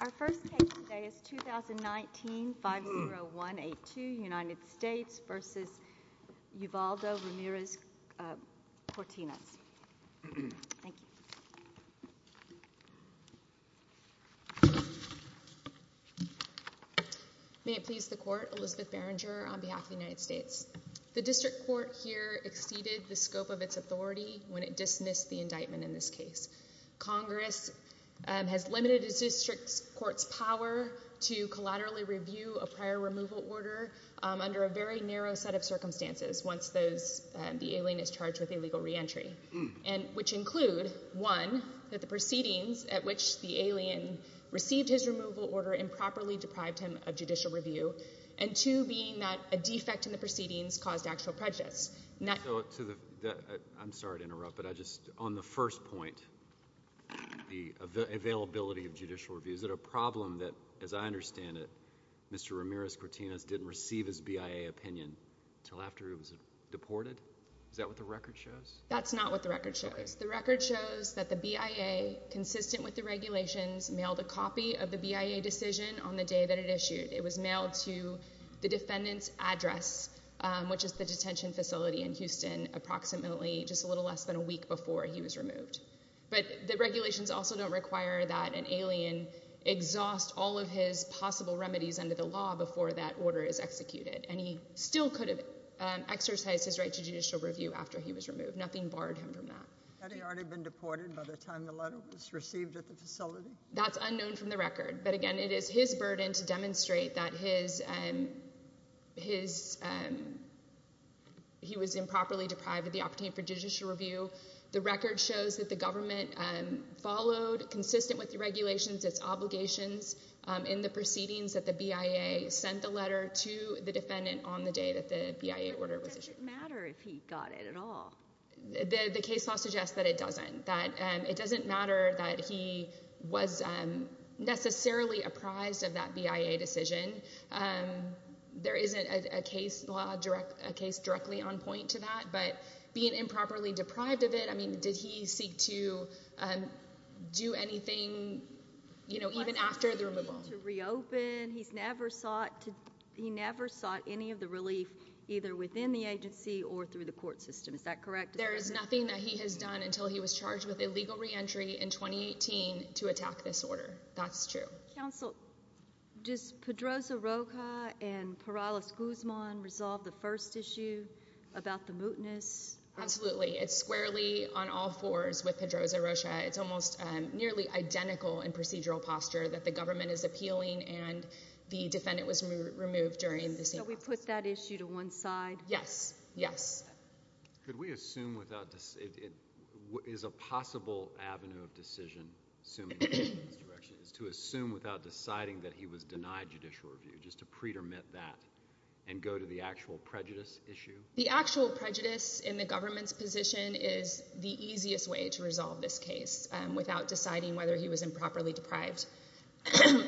Our first case today is 2019-50182, United States v. Uvaldo Ramirez-Cortinas. Thank you. May it please the Court, Elizabeth Berenger on behalf of the United States. The District Court here exceeded the scope of its authority when it dismissed the indictment in this case. Congress has limited the District Court's power to collaterally review a prior removal order under a very narrow set of circumstances once the alien is charged with illegal reentry, which include, one, that the proceedings at which the alien received his removal order improperly deprived him of judicial review, and two, being that a defect in the proceedings caused actual prejudice. I'm sorry to interrupt, but on the first point, the availability of judicial review, is it a problem that, as I understand it, Mr. Ramirez-Cortinas didn't receive his BIA opinion until after he was deported? Is that what the record shows? That's not what the record shows. The record shows that the BIA, consistent with the regulations, mailed a copy of the BIA decision on the day that it issued. It was mailed to the defendant's address, which is the detention facility in Houston, approximately just a little less than a week before he was removed. But the regulations also don't require that an alien exhaust all of his possible remedies under the law before that order is executed, and he still could have exercised his right to judicial review after he was removed. Nothing barred him from that. Had he already been deported by the time the letter was received at the facility? That's unknown from the record, but again, it is his burden to demonstrate that he was improperly deprived of the opportunity for judicial review. The record shows that the government followed, consistent with the regulations, its obligations in the proceedings that the BIA sent the letter to the defendant on the day that the BIA order was issued. But it doesn't matter if he got it at all. The case law suggests that it doesn't. It doesn't matter that he was necessarily apprised of that BIA decision. There isn't a case law, a case directly on point to that, but being improperly deprived of it, I mean, did he seek to do anything, you know, even after the removal? He's never sought any of the relief, either within the agency or through the court system. Is that correct? There is nothing that he has done until he was charged with illegal reentry in 2018 to attack this order. That's true. Counsel, does Pedroza Rocha and Perales Guzman resolve the first issue about the mootness? Absolutely. It's squarely on all fours with Pedroza Rocha. It's almost nearly identical in procedural posture that the government is appealing and the defendant was removed during the same process. So we put that issue to one side? Yes. Yes. Could we assume without – is a possible avenue of decision, assuming in this direction, is to assume without deciding that he was denied judicial review, just to pretermit that and go to the actual prejudice issue? The actual prejudice in the government's position is the easiest way to resolve this case without deciding whether he was improperly deprived.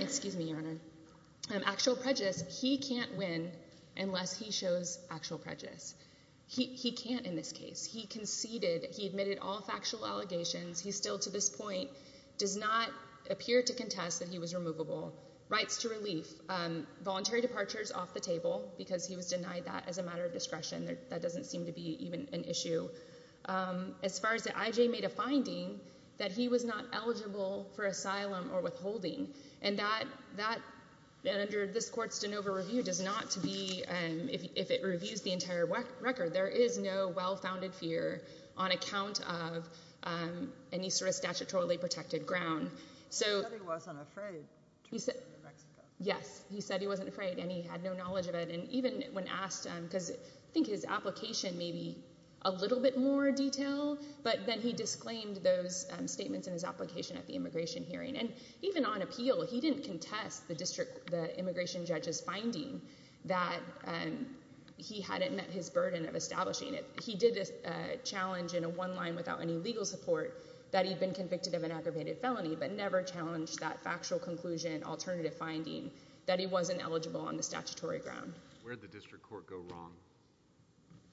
Excuse me, Your Honor. Actual prejudice, he can't win unless he shows actual prejudice. He can't in this case. He conceded. He admitted all factual allegations. He still to this point does not appear to contest that he was removable. Rights to relief, voluntary departures off the table because he was denied that as a matter of discretion. That doesn't seem to be even an issue. As far as the – I.J. made a finding that he was not eligible for asylum or withholding, and that under this court's de novo review does not to be – if it reviews the entire record, there is no well-founded fear on account of any sort of statutorily protected ground. He said he wasn't afraid to go to New Mexico. Yes, he said he wasn't afraid, and he had no knowledge of it. And even when asked – because I think his application may be a little bit more detailed, but then he disclaimed those statements in his application at the immigration hearing. And even on appeal, he didn't contest the immigration judge's finding that he hadn't met his burden of establishing it. He did challenge in a one line without any legal support that he'd been convicted of an aggravated felony but never challenged that factual conclusion, alternative finding, that he wasn't eligible on the statutory ground. Where did the district court go wrong?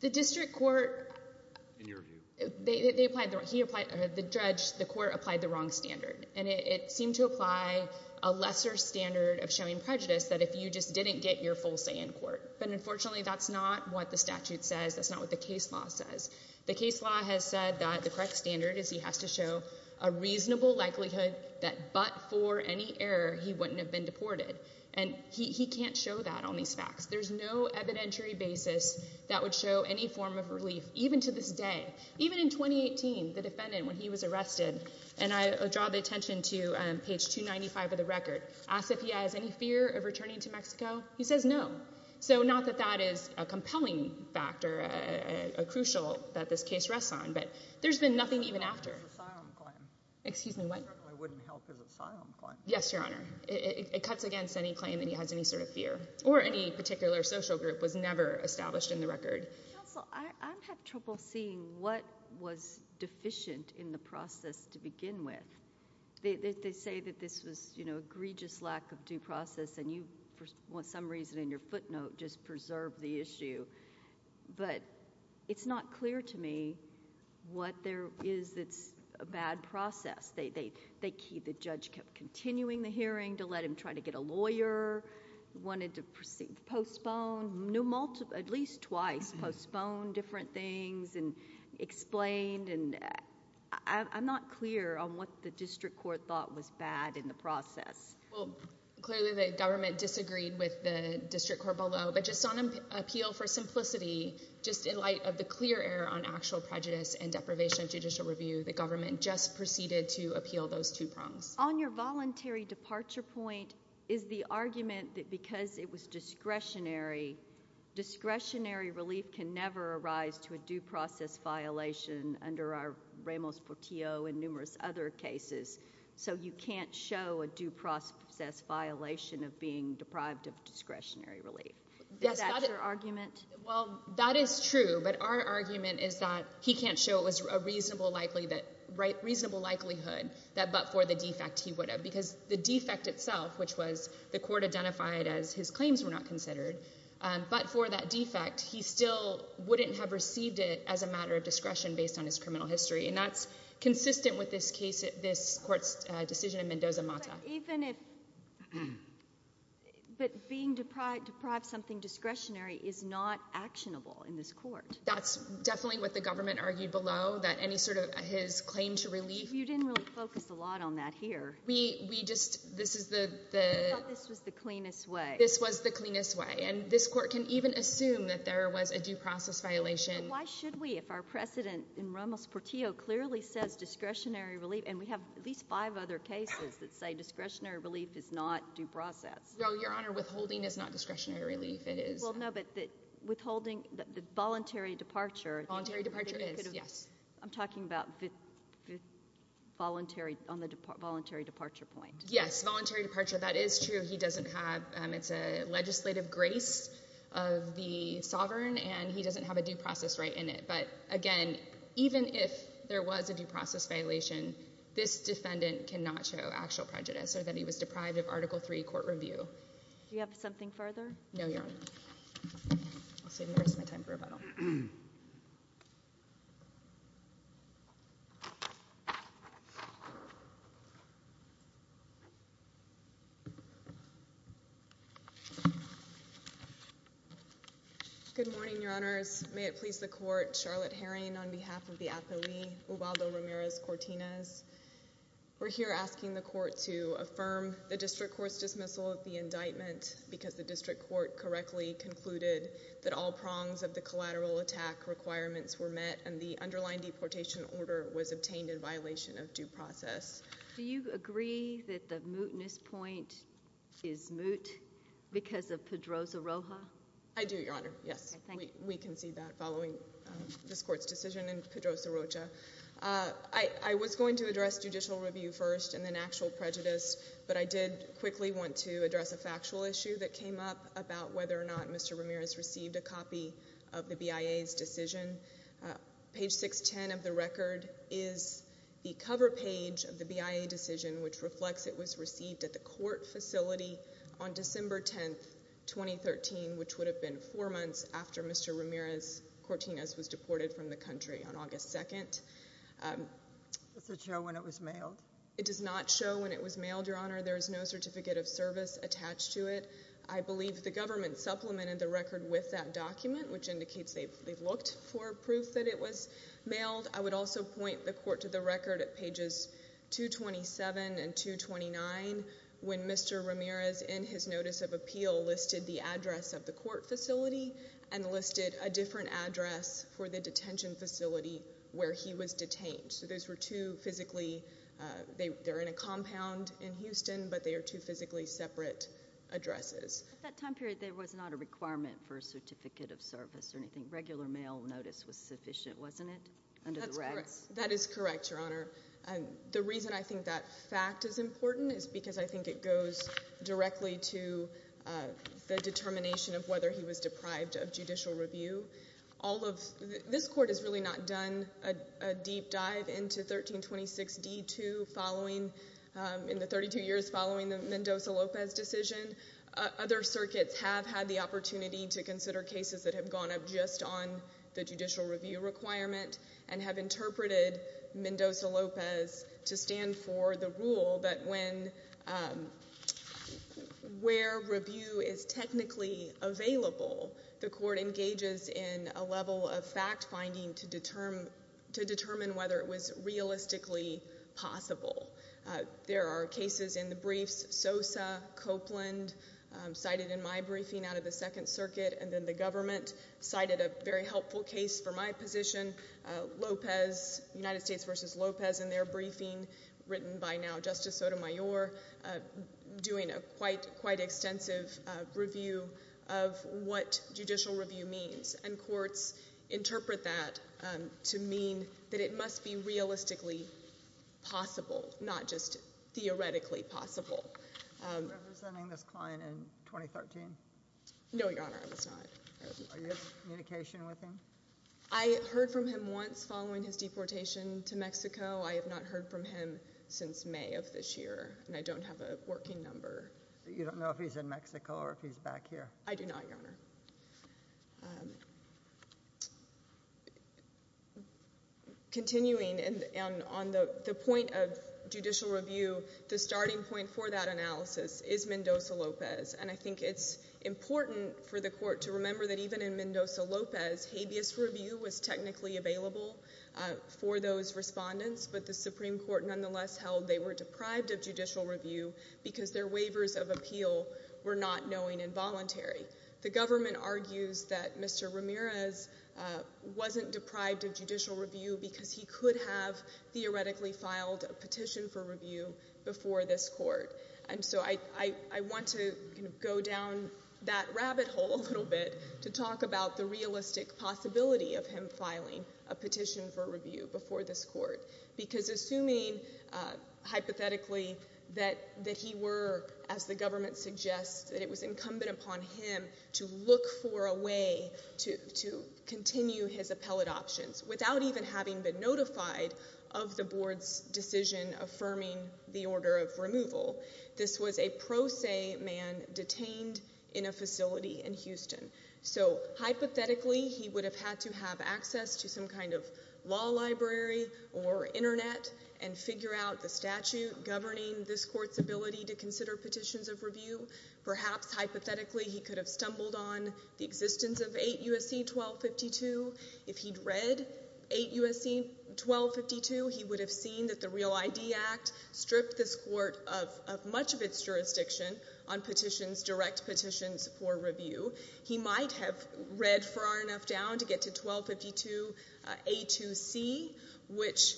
The district court – In your view. The judge – the court applied the wrong standard, and it seemed to apply a lesser standard of showing prejudice that if you just didn't get your full say in court. But unfortunately, that's not what the statute says. That's not what the case law says. The case law has said that the correct standard is he has to show a reasonable likelihood that but for any error, he wouldn't have been deported. And he can't show that on these facts. There's no evidentiary basis that would show any form of relief, even to this day. Even in 2018, the defendant, when he was arrested, and I draw the attention to page 295 of the record, asked if he has any fear of returning to Mexico. He says no. So not that that is a compelling factor, a crucial that this case rests on, but there's been nothing even after. He wouldn't help his asylum claim. Excuse me, what? He certainly wouldn't help his asylum claim. Yes, Your Honor. It cuts against any claim that he has any sort of fear, or any particular social group was never established in the record. Counsel, I have trouble seeing what was deficient in the process to begin with. They say that this was, you know, egregious lack of due process, and you, for some reason in your footnote, just preserved the issue. But it's not clear to me what there is that's a bad process. The judge kept continuing the hearing to let him try to get a lawyer, wanted to postpone at least twice, postponed different things and explained. I'm not clear on what the district court thought was bad in the process. Well, clearly the government disagreed with the district court below. But just on appeal for simplicity, just in light of the clear error on actual prejudice and deprivation of judicial review, the government just proceeded to appeal those two prongs. On your voluntary departure point is the argument that because it was discretionary, discretionary relief can never arise to a due process violation under our Ramos-Portillo and numerous other cases. So you can't show a due process violation of being deprived of discretionary relief. Is that your argument? Well, that is true. But our argument is that he can't show it was a reasonable likelihood that but for the defect he would have. Because the defect itself, which was the court identified as his claims were not considered, but for that defect he still wouldn't have received it as a matter of discretion based on his criminal history. And that's consistent with this court's decision in Mendoza-Mata. But being deprived of something discretionary is not actionable in this court. That's definitely what the government argued below, that any sort of his claim to relief. You didn't really focus a lot on that here. We thought this was the cleanest way. This was the cleanest way. And this court can even assume that there was a due process violation. Why should we if our precedent in Ramos-Portillo clearly says discretionary relief? And we have at least five other cases that say discretionary relief is not due process. No, Your Honor, withholding is not discretionary relief. Well, no, but withholding the voluntary departure. Voluntary departure is, yes. I'm talking about voluntary departure point. Yes, voluntary departure. That is true. It's a legislative grace of the sovereign, and he doesn't have a due process right in it. But, again, even if there was a due process violation, this defendant cannot show actual prejudice or that he was deprived of Article III court review. Do you have something further? No, Your Honor. I'll save the rest of my time for rebuttal. Good morning, Your Honors. May it please the court. Charlotte Herring on behalf of the appelee, Ubaldo Ramirez-Cortinez. We're here asking the court to affirm the district court's dismissal of the indictment because the district court correctly concluded that all prongs of the collateral attack requirements were met and the underlying deportation order was obtained in violation of due process. Do you agree that the mootness point is moot because of Pedroza-Roja? I do, Your Honor, yes. We concede that following this court's decision in Pedroza-Roja. I was going to address judicial review first and then actual prejudice, but I did quickly want to address a factual issue that came up about whether or not Mr. Ramirez received a copy of the BIA's decision. Page 610 of the record is the cover page of the BIA decision, which reflects it was received at the court facility on December 10, 2013, which would have been four months after Mr. Ramirez-Cortinez was deported from the country on August 2nd. Does it show when it was mailed? It does not show when it was mailed, Your Honor. There is no certificate of service attached to it. I believe the government supplemented the record with that document, which indicates they've looked for proof that it was mailed. I would also point the court to the record at pages 227 and 229 when Mr. Ramirez, in his notice of appeal, listed the address of the court facility and listed a different address for the detention facility where he was detained. So those were two physically—they're in a compound in Houston, but they are two physically separate addresses. At that time period, there was not a requirement for a certificate of service or anything. Regular mail notice was sufficient, wasn't it, under the regs? That is correct, Your Honor. The reason I think that fact is important is because I think it goes directly to the determination of whether he was deprived of judicial review. This court has really not done a deep dive into 1326D2 in the 32 years following the Mendoza-Lopez decision. Other circuits have had the opportunity to consider cases that have gone up just on the judicial review requirement and have interpreted Mendoza-Lopez to stand for the rule that where review is technically available, the court engages in a level of fact-finding to determine whether it was realistically possible. There are cases in the briefs—Sosa, Copeland, cited in my briefing out of the Second Circuit, and then the government cited a very helpful case for my position, Lopez, United States v. Lopez in their briefing written by now Justice Sotomayor, doing a quite extensive review of what judicial review means. And courts interpret that to mean that it must be realistically possible, not just theoretically possible. Were you representing this client in 2013? No, Your Honor, I was not. Are you in communication with him? I heard from him once following his deportation to Mexico. I have not heard from him since May of this year, and I don't have a working number. You don't know if he's in Mexico or if he's back here? I do not, Your Honor. Continuing on the point of judicial review, the starting point for that analysis is Mendoza-Lopez, and I think it's important for the court to remember that even in Mendoza-Lopez, habeas review was technically available for those respondents, but the Supreme Court nonetheless held they were deprived of judicial review because their waivers of appeal were not knowing and voluntary. The government argues that Mr. Ramirez wasn't deprived of judicial review because he could have theoretically filed a petition for review before this court. And so I want to go down that rabbit hole a little bit to talk about the realistic possibility of him filing a petition for review before this court because assuming hypothetically that he were, as the government suggests, that it was incumbent upon him to look for a way to continue his appellate options without even having been notified of the board's decision affirming the order of removal. This was a pro se man detained in a facility in Houston. So hypothetically he would have had to have access to some kind of law library or Internet and figure out the statute governing this court's ability to consider petitions of review. Perhaps hypothetically he could have stumbled on the existence of 8 U.S.C. 1252. If he'd read 8 U.S.C. 1252, he would have seen that the Real ID Act stripped this court of much of its jurisdiction on direct petitions for review. He might have read far enough down to get to 1252A2C, which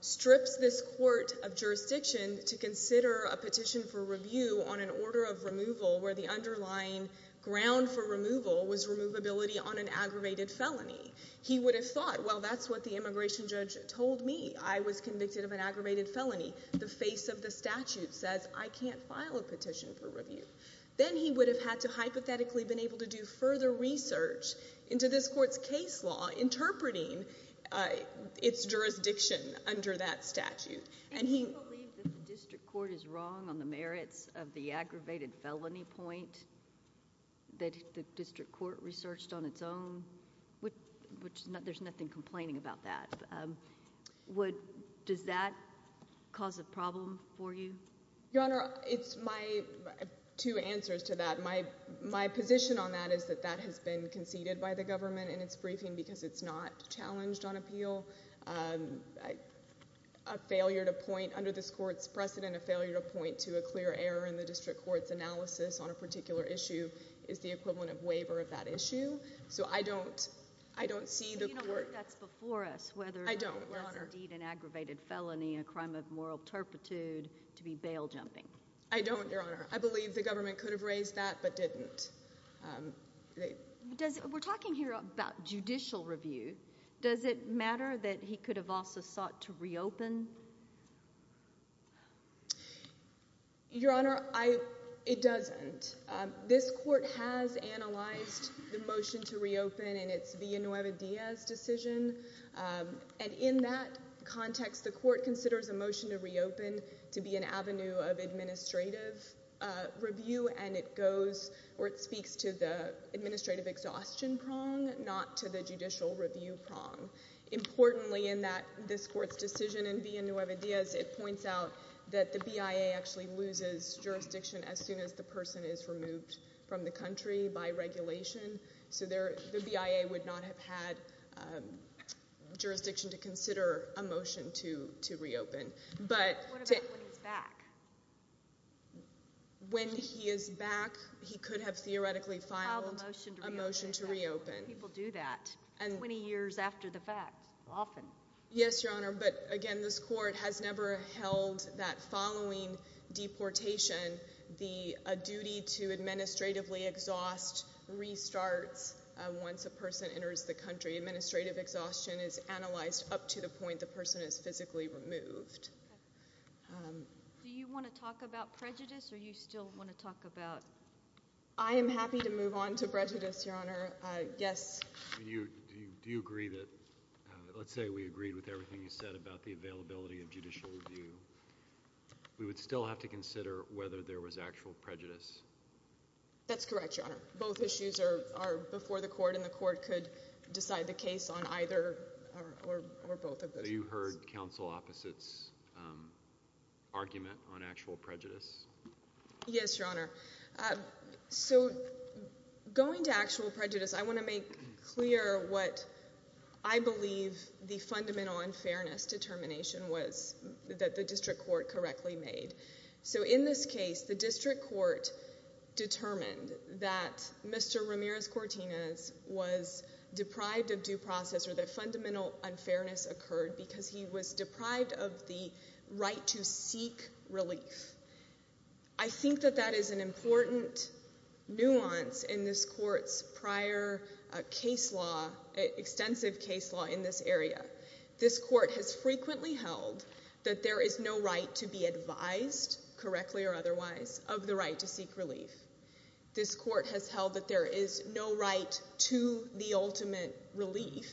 strips this court of jurisdiction to consider a petition for review on an order of removal where the underlying ground for removal was removability on an aggravated felony. He would have thought, well, that's what the immigration judge told me. I was convicted of an aggravated felony. The face of the statute says I can't file a petition for review. Then he would have had to have hypothetically been able to do further research into this court's case law interpreting its jurisdiction under that statute. Do you believe that the district court is wrong on the merits of the aggravated felony point that the district court researched on its own? There's nothing complaining about that. Does that cause a problem for you? Your Honor, it's my two answers to that. My position on that is that that has been conceded by the government in its briefing because it's not challenged on appeal. A failure to point under this court's precedent, a failure to point to a clear error in the district court's analysis on a particular issue is the equivalent of waiver of that issue. So I don't see the court. Do you know whether that's before us, whether that's indeed an aggravated felony, a crime of moral turpitude, to be bail-jumping? I don't, Your Honor. I believe the government could have raised that but didn't. We're talking here about judicial review. Does it matter that he could have also sought to reopen? Your Honor, it doesn't. This court has analyzed the motion to reopen in its Villanueva Diaz decision, and in that context the court considers a motion to reopen to be an avenue of administrative review and it speaks to the administrative exhaustion prong, not to the judicial review prong. Importantly in this court's decision in Villanueva Diaz, it points out that the BIA actually loses jurisdiction as soon as the person is removed from the country by regulation. So the BIA would not have had jurisdiction to consider a motion to reopen. What about when he's back? When he is back, he could have theoretically filed a motion to reopen. People do that 20 years after the fact, often. Yes, Your Honor, but again, this court has never held that following deportation, a duty to administratively exhaust restarts once a person enters the country. Administrative exhaustion is analyzed up to the point the person is physically removed. Do you want to talk about prejudice or do you still want to talk about? I am happy to move on to prejudice, Your Honor. Yes. Do you agree that, let's say we agreed with everything you said about the availability of judicial review, we would still have to consider whether there was actual prejudice? That's correct, Your Honor. Both issues are before the court and the court could decide the case on either or both of those. Have you heard counsel opposites' argument on actual prejudice? Yes, Your Honor. So going to actual prejudice, I want to make clear what I believe the fundamental unfairness determination was that the district court correctly made. So in this case, the district court determined that Mr. Ramirez-Cortinez was deprived of due process or that fundamental unfairness occurred because he was deprived of the right to seek relief. I think that that is an important nuance in this court's prior case law, extensive case law in this area. This court has frequently held that there is no right to be advised, correctly or otherwise, of the right to seek relief. This court has held that there is no right to the ultimate relief.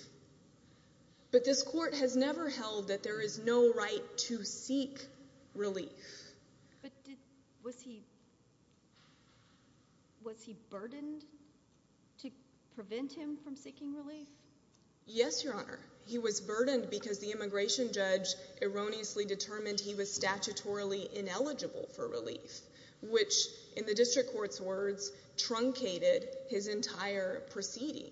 But this court has never held that there is no right to seek relief. But was he burdened to prevent him from seeking relief? Yes, Your Honor. He was burdened because the immigration judge erroneously determined he was statutorily ineligible for relief, which, in the district court's words, truncated his entire proceeding.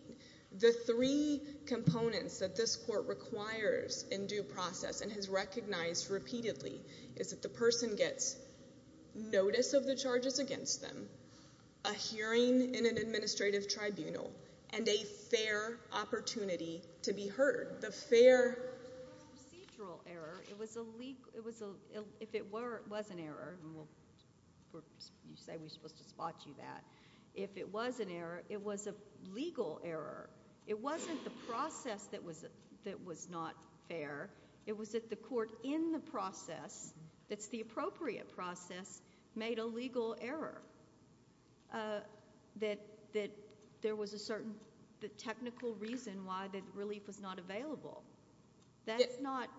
The three components that this court requires in due process and has recognized repeatedly is that the person gets notice of the charges against them, a hearing in an administrative tribunal, and a fair opportunity to be heard. It wasn't a procedural error. If it was an error, and you say we're supposed to spot you that, if it was an error, it was a legal error. It wasn't the process that was not fair. It was that the court in the process, that's the appropriate process, made a legal error, that there was a certain technical reason why the relief was not available. That's not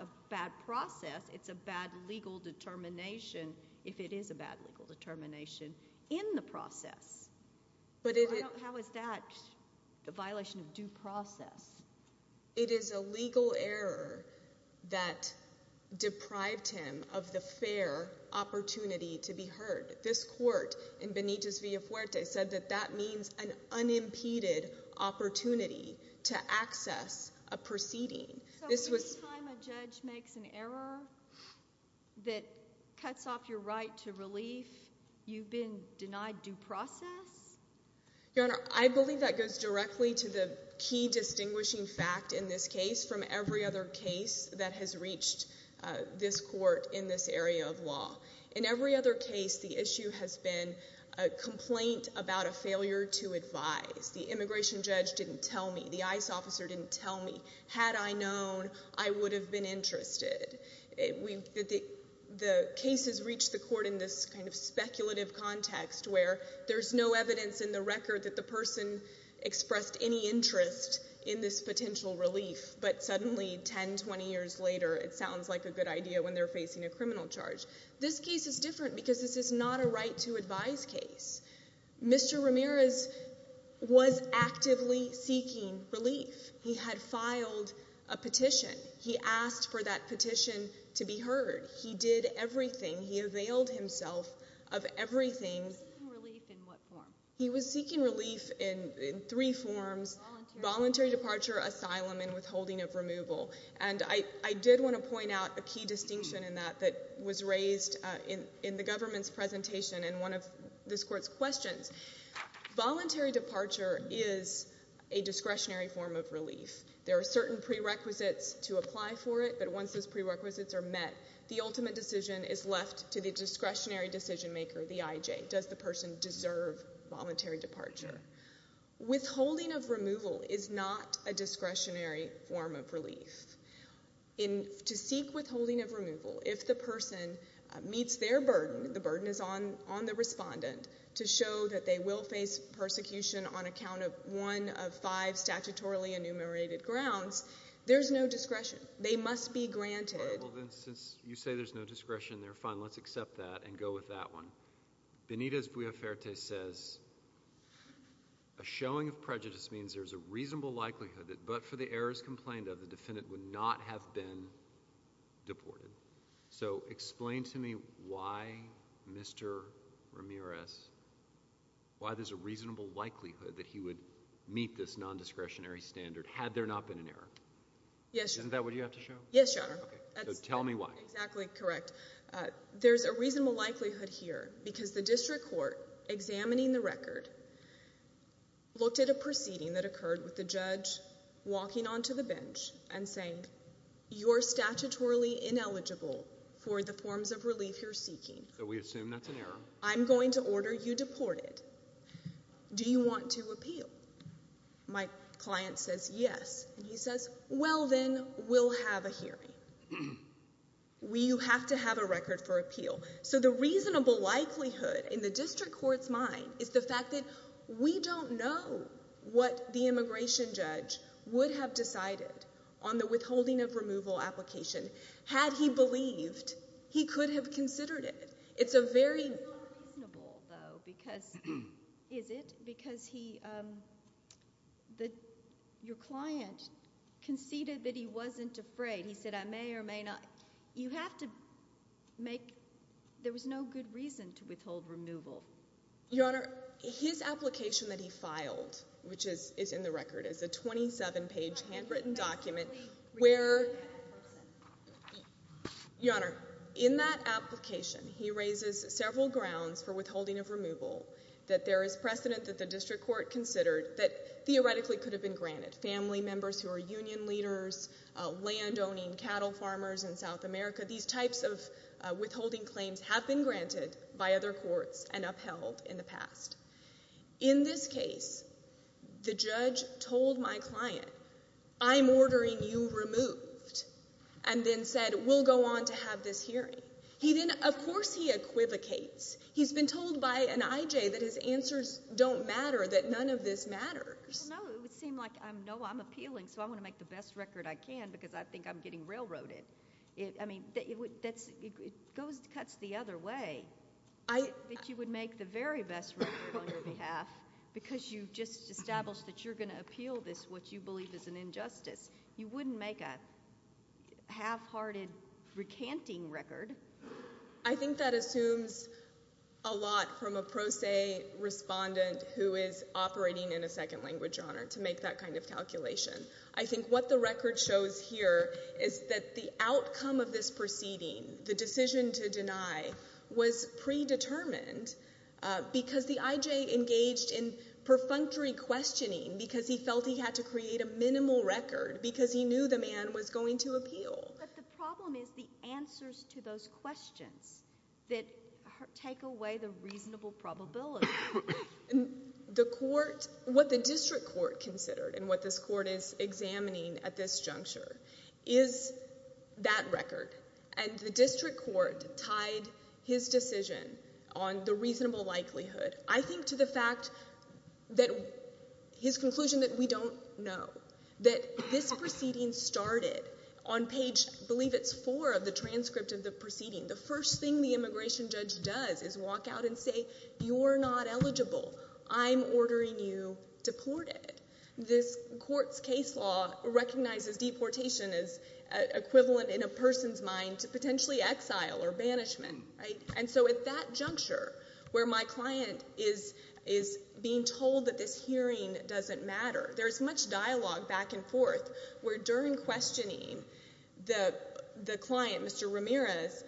a bad process. It's a bad legal determination if it is a bad legal determination in the process. How is that a violation of due process? It is a legal error that deprived him of the fair opportunity to be heard. This court in Benitez Villafuerte said that that means an unimpeded opportunity to access a proceeding. So every time a judge makes an error that cuts off your right to relief, you've been denied due process? Your Honor, I believe that goes directly to the key distinguishing fact in this case from every other case that has reached this court in this area of law. In every other case, the issue has been a complaint about a failure to advise. The immigration judge didn't tell me. The ICE officer didn't tell me. Had I known, I would have been interested. The case has reached the court in this kind of speculative context where there's no evidence in the record that the person expressed any interest in this potential relief, but suddenly 10, 20 years later, it sounds like a good idea when they're facing a criminal charge. This case is different because this is not a right to advise case. Mr. Ramirez was actively seeking relief. He had filed a petition. He asked for that petition to be heard. He did everything. He availed himself of everything. He was seeking relief in what form? He was seeking relief in three forms, voluntary departure, asylum, and withholding of removal. And I did want to point out a key distinction in that that was raised in the government's presentation in one of this court's questions. Voluntary departure is a discretionary form of relief. There are certain prerequisites to apply for it, but once those prerequisites are met, the ultimate decision is left to the discretionary decision maker, the IJ. Does the person deserve voluntary departure? Withholding of removal is not a discretionary form of relief. To seek withholding of removal, if the person meets their burden, the burden is on the respondent, to show that they will face persecution on account of one of five statutorily enumerated grounds, there's no discretion. They must be granted. Since you say there's no discretion there, fine, let's accept that and go with that one. Benitez-Bueferte says, a showing of prejudice means there's a reasonable likelihood that but for the errors complained of, the defendant would not have been deported. So explain to me why Mr. Ramirez, why there's a reasonable likelihood that he would meet this nondiscretionary standard had there not been an error. Yes, Your Honor. Isn't that what you have to show? Yes, Your Honor. Tell me why. Exactly correct. There's a reasonable likelihood here because the district court, examining the record, looked at a proceeding that occurred with the judge walking onto the bench and saying, you're statutorily ineligible for the forms of relief you're seeking. So we assume that's an error. I'm going to order you deported. Do you want to appeal? My client says yes. He says, well then, we'll have a hearing. You have to have a record for appeal. So the reasonable likelihood in the district court's mind is the fact that we don't know what the immigration judge would have decided on the withholding of removal application had he believed he could have considered it. It's a very— It's not reasonable, though, is it? Because your client conceded that he wasn't afraid. He said, I may or may not. You have to make—there was no good reason to withhold removal. Your Honor, his application that he filed, which is in the record, is a 27-page, handwritten document where— How can you possibly— Your Honor, in that application, he raises several grounds for withholding of removal, that there is precedent that the district court considered that theoretically could have been granted. Family members who are union leaders, land-owning cattle farmers in South America, these types of withholding claims have been granted by other courts and upheld in the past. In this case, the judge told my client, I'm ordering you removed, and then said, we'll go on to have this hearing. He then—of course he equivocates. He's been told by an IJ that his answers don't matter, that none of this matters. No, it would seem like, no, I'm appealing, so I want to make the best record I can because I think I'm getting railroaded. I mean, it cuts the other way, that you would make the very best record on your behalf because you've just established that you're going to appeal this, what you believe is an injustice. You wouldn't make a half-hearted recanting record. I think that assumes a lot from a pro se respondent who is operating in a second language, Your Honor, to make that kind of calculation. I think what the record shows here is that the outcome of this proceeding, the decision to deny, was predetermined because the IJ engaged in perfunctory questioning because he felt he had to create a minimal record because he knew the man was going to appeal. But the problem is the answers to those questions that take away the reasonable probability. The court, what the district court considered and what this court is examining at this juncture is that record. And the district court tied his decision on the reasonable likelihood, I think, to the fact that his conclusion that we don't know, that this proceeding started on page, I believe it's four of the transcript of the proceeding. The first thing the immigration judge does is walk out and say you're not eligible. I'm ordering you deported. This court's case law recognizes deportation as equivalent in a person's mind to potentially exile or banishment. And so at that juncture where my client is being told that this hearing doesn't matter, there's much dialogue back and forth where during questioning the client, Mr. Ramirez,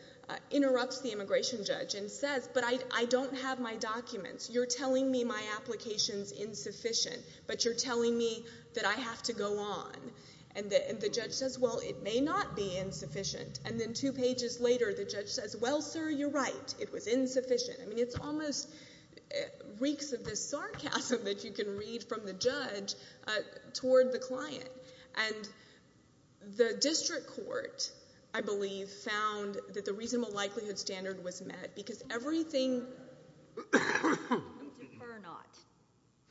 interrupts the immigration judge and says, but I don't have my documents. You're telling me my application's insufficient, but you're telling me that I have to go on. And the judge says, well, it may not be insufficient. And then two pages later the judge says, well, sir, you're right. It was insufficient. I mean, it's almost reeks of this sarcasm that you can read from the judge toward the client. And the district court, I believe, found that the reasonable likelihood standard was met because everything. We defer not.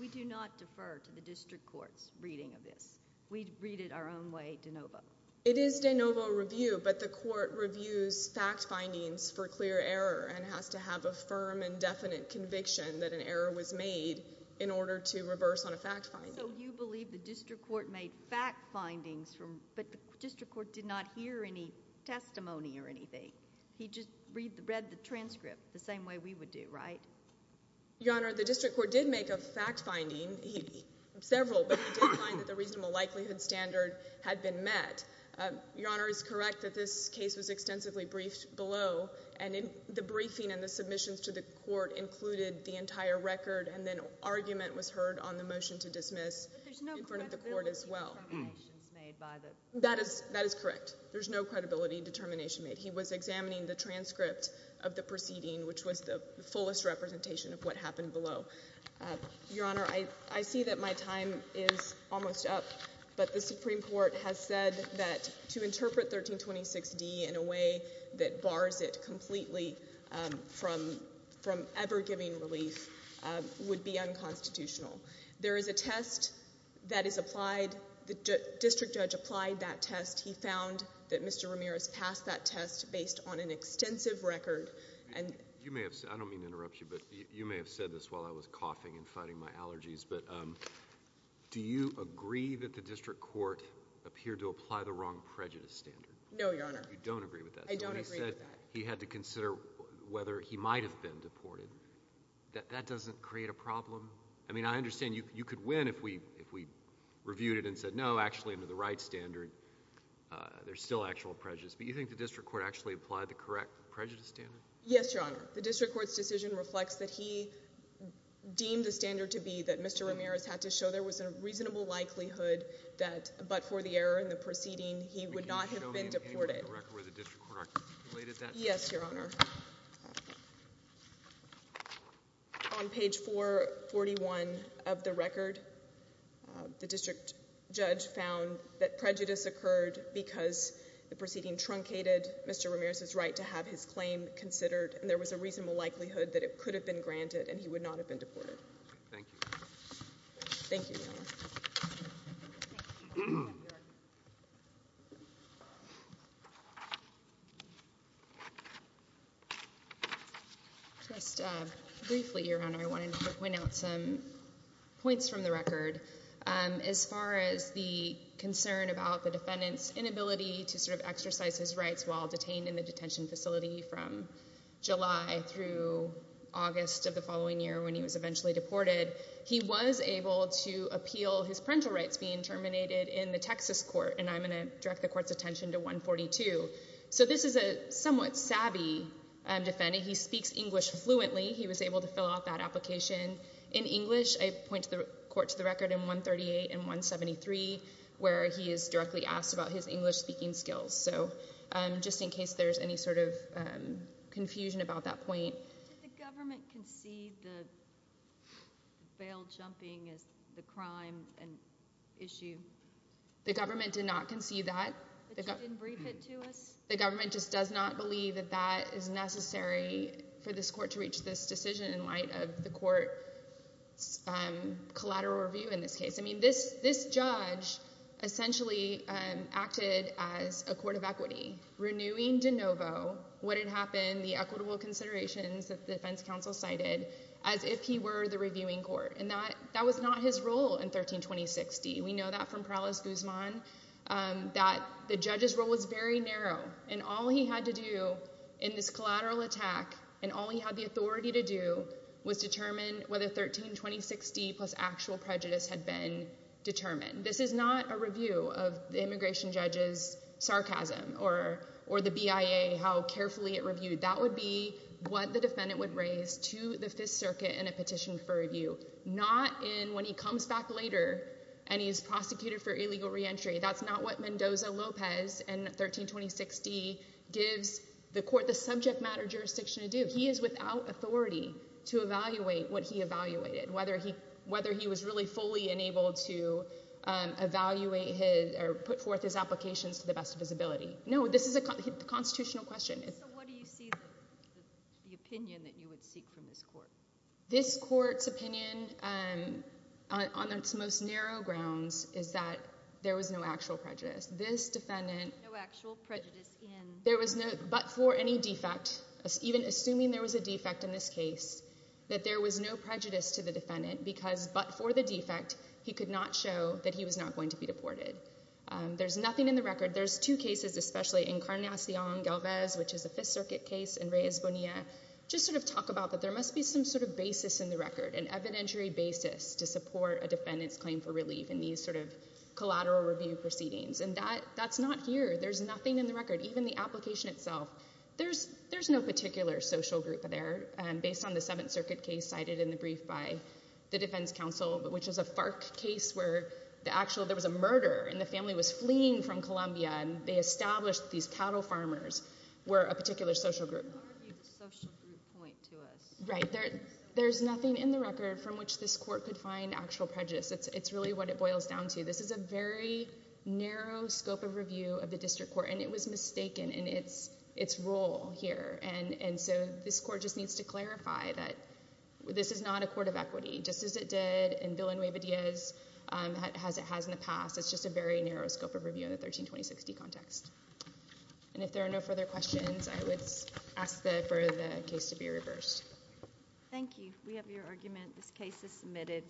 We do not defer to the district court's reading of this. We read it our own way de novo. It is de novo review, but the court reviews fact findings for clear error and has to have a firm and definite conviction that an error was made in order to reverse on a fact finding. So you believe the district court made fact findings, but the district court did not hear any testimony or anything. He just read the transcript the same way we would do, right? Your Honor, the district court did make a fact finding, several, but he did find that the reasonable likelihood standard had been met. Your Honor is correct that this case was extensively briefed below, and the briefing and the submissions to the court included the entire record, and then argument was heard on the motion to dismiss in front of the court as well. But there's no credibility determinations made by the court. That is correct. There's no credibility determination made. He was examining the transcript of the proceeding, which was the fullest representation of what happened below. Your Honor, I see that my time is almost up, but the Supreme Court has said that to interpret 1326D in a way that bars it completely from ever giving relief would be unconstitutional. There is a test that is applied. The district judge applied that test. He found that Mr. Ramirez passed that test based on an extensive record. I don't mean to interrupt you, but you may have said this while I was coughing and fighting my allergies, but do you agree that the district court appeared to apply the wrong prejudice standard? No, Your Honor. You don't agree with that? I don't agree with that. He said he had to consider whether he might have been deported. That doesn't create a problem? I mean, I understand you could win if we reviewed it and said, no, actually, under the right standard, there's still actual prejudice. But you think the district court actually applied the correct prejudice standard? Yes, Your Honor. The district court's decision reflects that he deemed the standard to be that Mr. Ramirez had to show there was a reasonable likelihood that, but for the error in the proceeding, he would not have been deported. Can you show me the record where the district court articulated that? Yes, Your Honor. On page 441 of the record, the district judge found that prejudice occurred because the proceeding truncated Mr. Ramirez's right to have his claim considered, and there was a reasonable likelihood that it could have been granted and he would not have been deported. Thank you. Thank you, Your Honor. Just briefly, Your Honor, I wanted to point out some points from the record. As far as the concern about the defendant's inability to sort of exercise his rights while detained in the detention facility from July through August of the following year, when he was eventually deported, he was able to appeal his parental rights being terminated in the Texas court, and I'm going to direct the court's attention to 142. So this is a somewhat savvy defendant. He speaks English fluently. He was able to fill out that application in English. I point the court to the record in 138 and 173 where he is directly asked about his English-speaking skills, so just in case there's any sort of confusion about that point. Did the government concede the bail jumping as the crime issue? The government did not concede that. But you didn't brief it to us? The government just does not believe that that is necessary for this court to reach this decision in light of the court's collateral review in this case. I mean this judge essentially acted as a court of equity, renewing de novo what had happened, the equitable considerations that the defense counsel cited as if he were the reviewing court, and that was not his role in 1320-60. We know that from Perales-Guzman, that the judge's role was very narrow, and all he had to do in this collateral attack and all he had the authority to do was determine whether 1320-60 plus actual prejudice had been determined. This is not a review of the immigration judge's sarcasm or the BIA, how carefully it reviewed. That would be what the defendant would raise to the Fifth Circuit in a petition for review, not when he comes back later and he's prosecuted for illegal reentry. That's not what Mendoza-Lopez in 1320-60 gives the court the subject matter jurisdiction to do. He is without authority to evaluate what he evaluated, whether he was really fully enabled to evaluate or put forth his applications to the best of his ability. No, this is a constitutional question. So what do you see as the opinion that you would seek from this court? This court's opinion on its most narrow grounds is that there was no actual prejudice. This defendant, but for any defect, even assuming there was a defect in this case, that there was no prejudice to the defendant because, but for the defect, he could not show that he was not going to be deported. There's nothing in the record. There's two cases, especially in Carnacion-Galvez, which is a Fifth Circuit case, and Reyes-Bonilla, just sort of talk about that there must be some sort of basis in the record, an evidentiary basis to support a defendant's claim for relief in these sort of collateral review proceedings. And that's not here. There's nothing in the record, even the application itself. There's no particular social group there, based on the Seventh Circuit case cited in the brief by the defense counsel, which is a FARC case where there was a murder and the family was fleeing from Colombia and they established these cattle farmers were a particular social group. You argued the social group point to us. Right. There's nothing in the record from which this court could find actual prejudice. It's really what it boils down to. This is a very narrow scope of review of the district court, and it was mistaken in its role here. And so this court just needs to clarify that this is not a court of equity, just as it did in Villanueva-Diez, as it has in the past. It's just a very narrow scope of review in the 1320-60 context. And if there are no further questions, I would ask for the case to be reversed. Thank you. We have your argument. This case is submitted.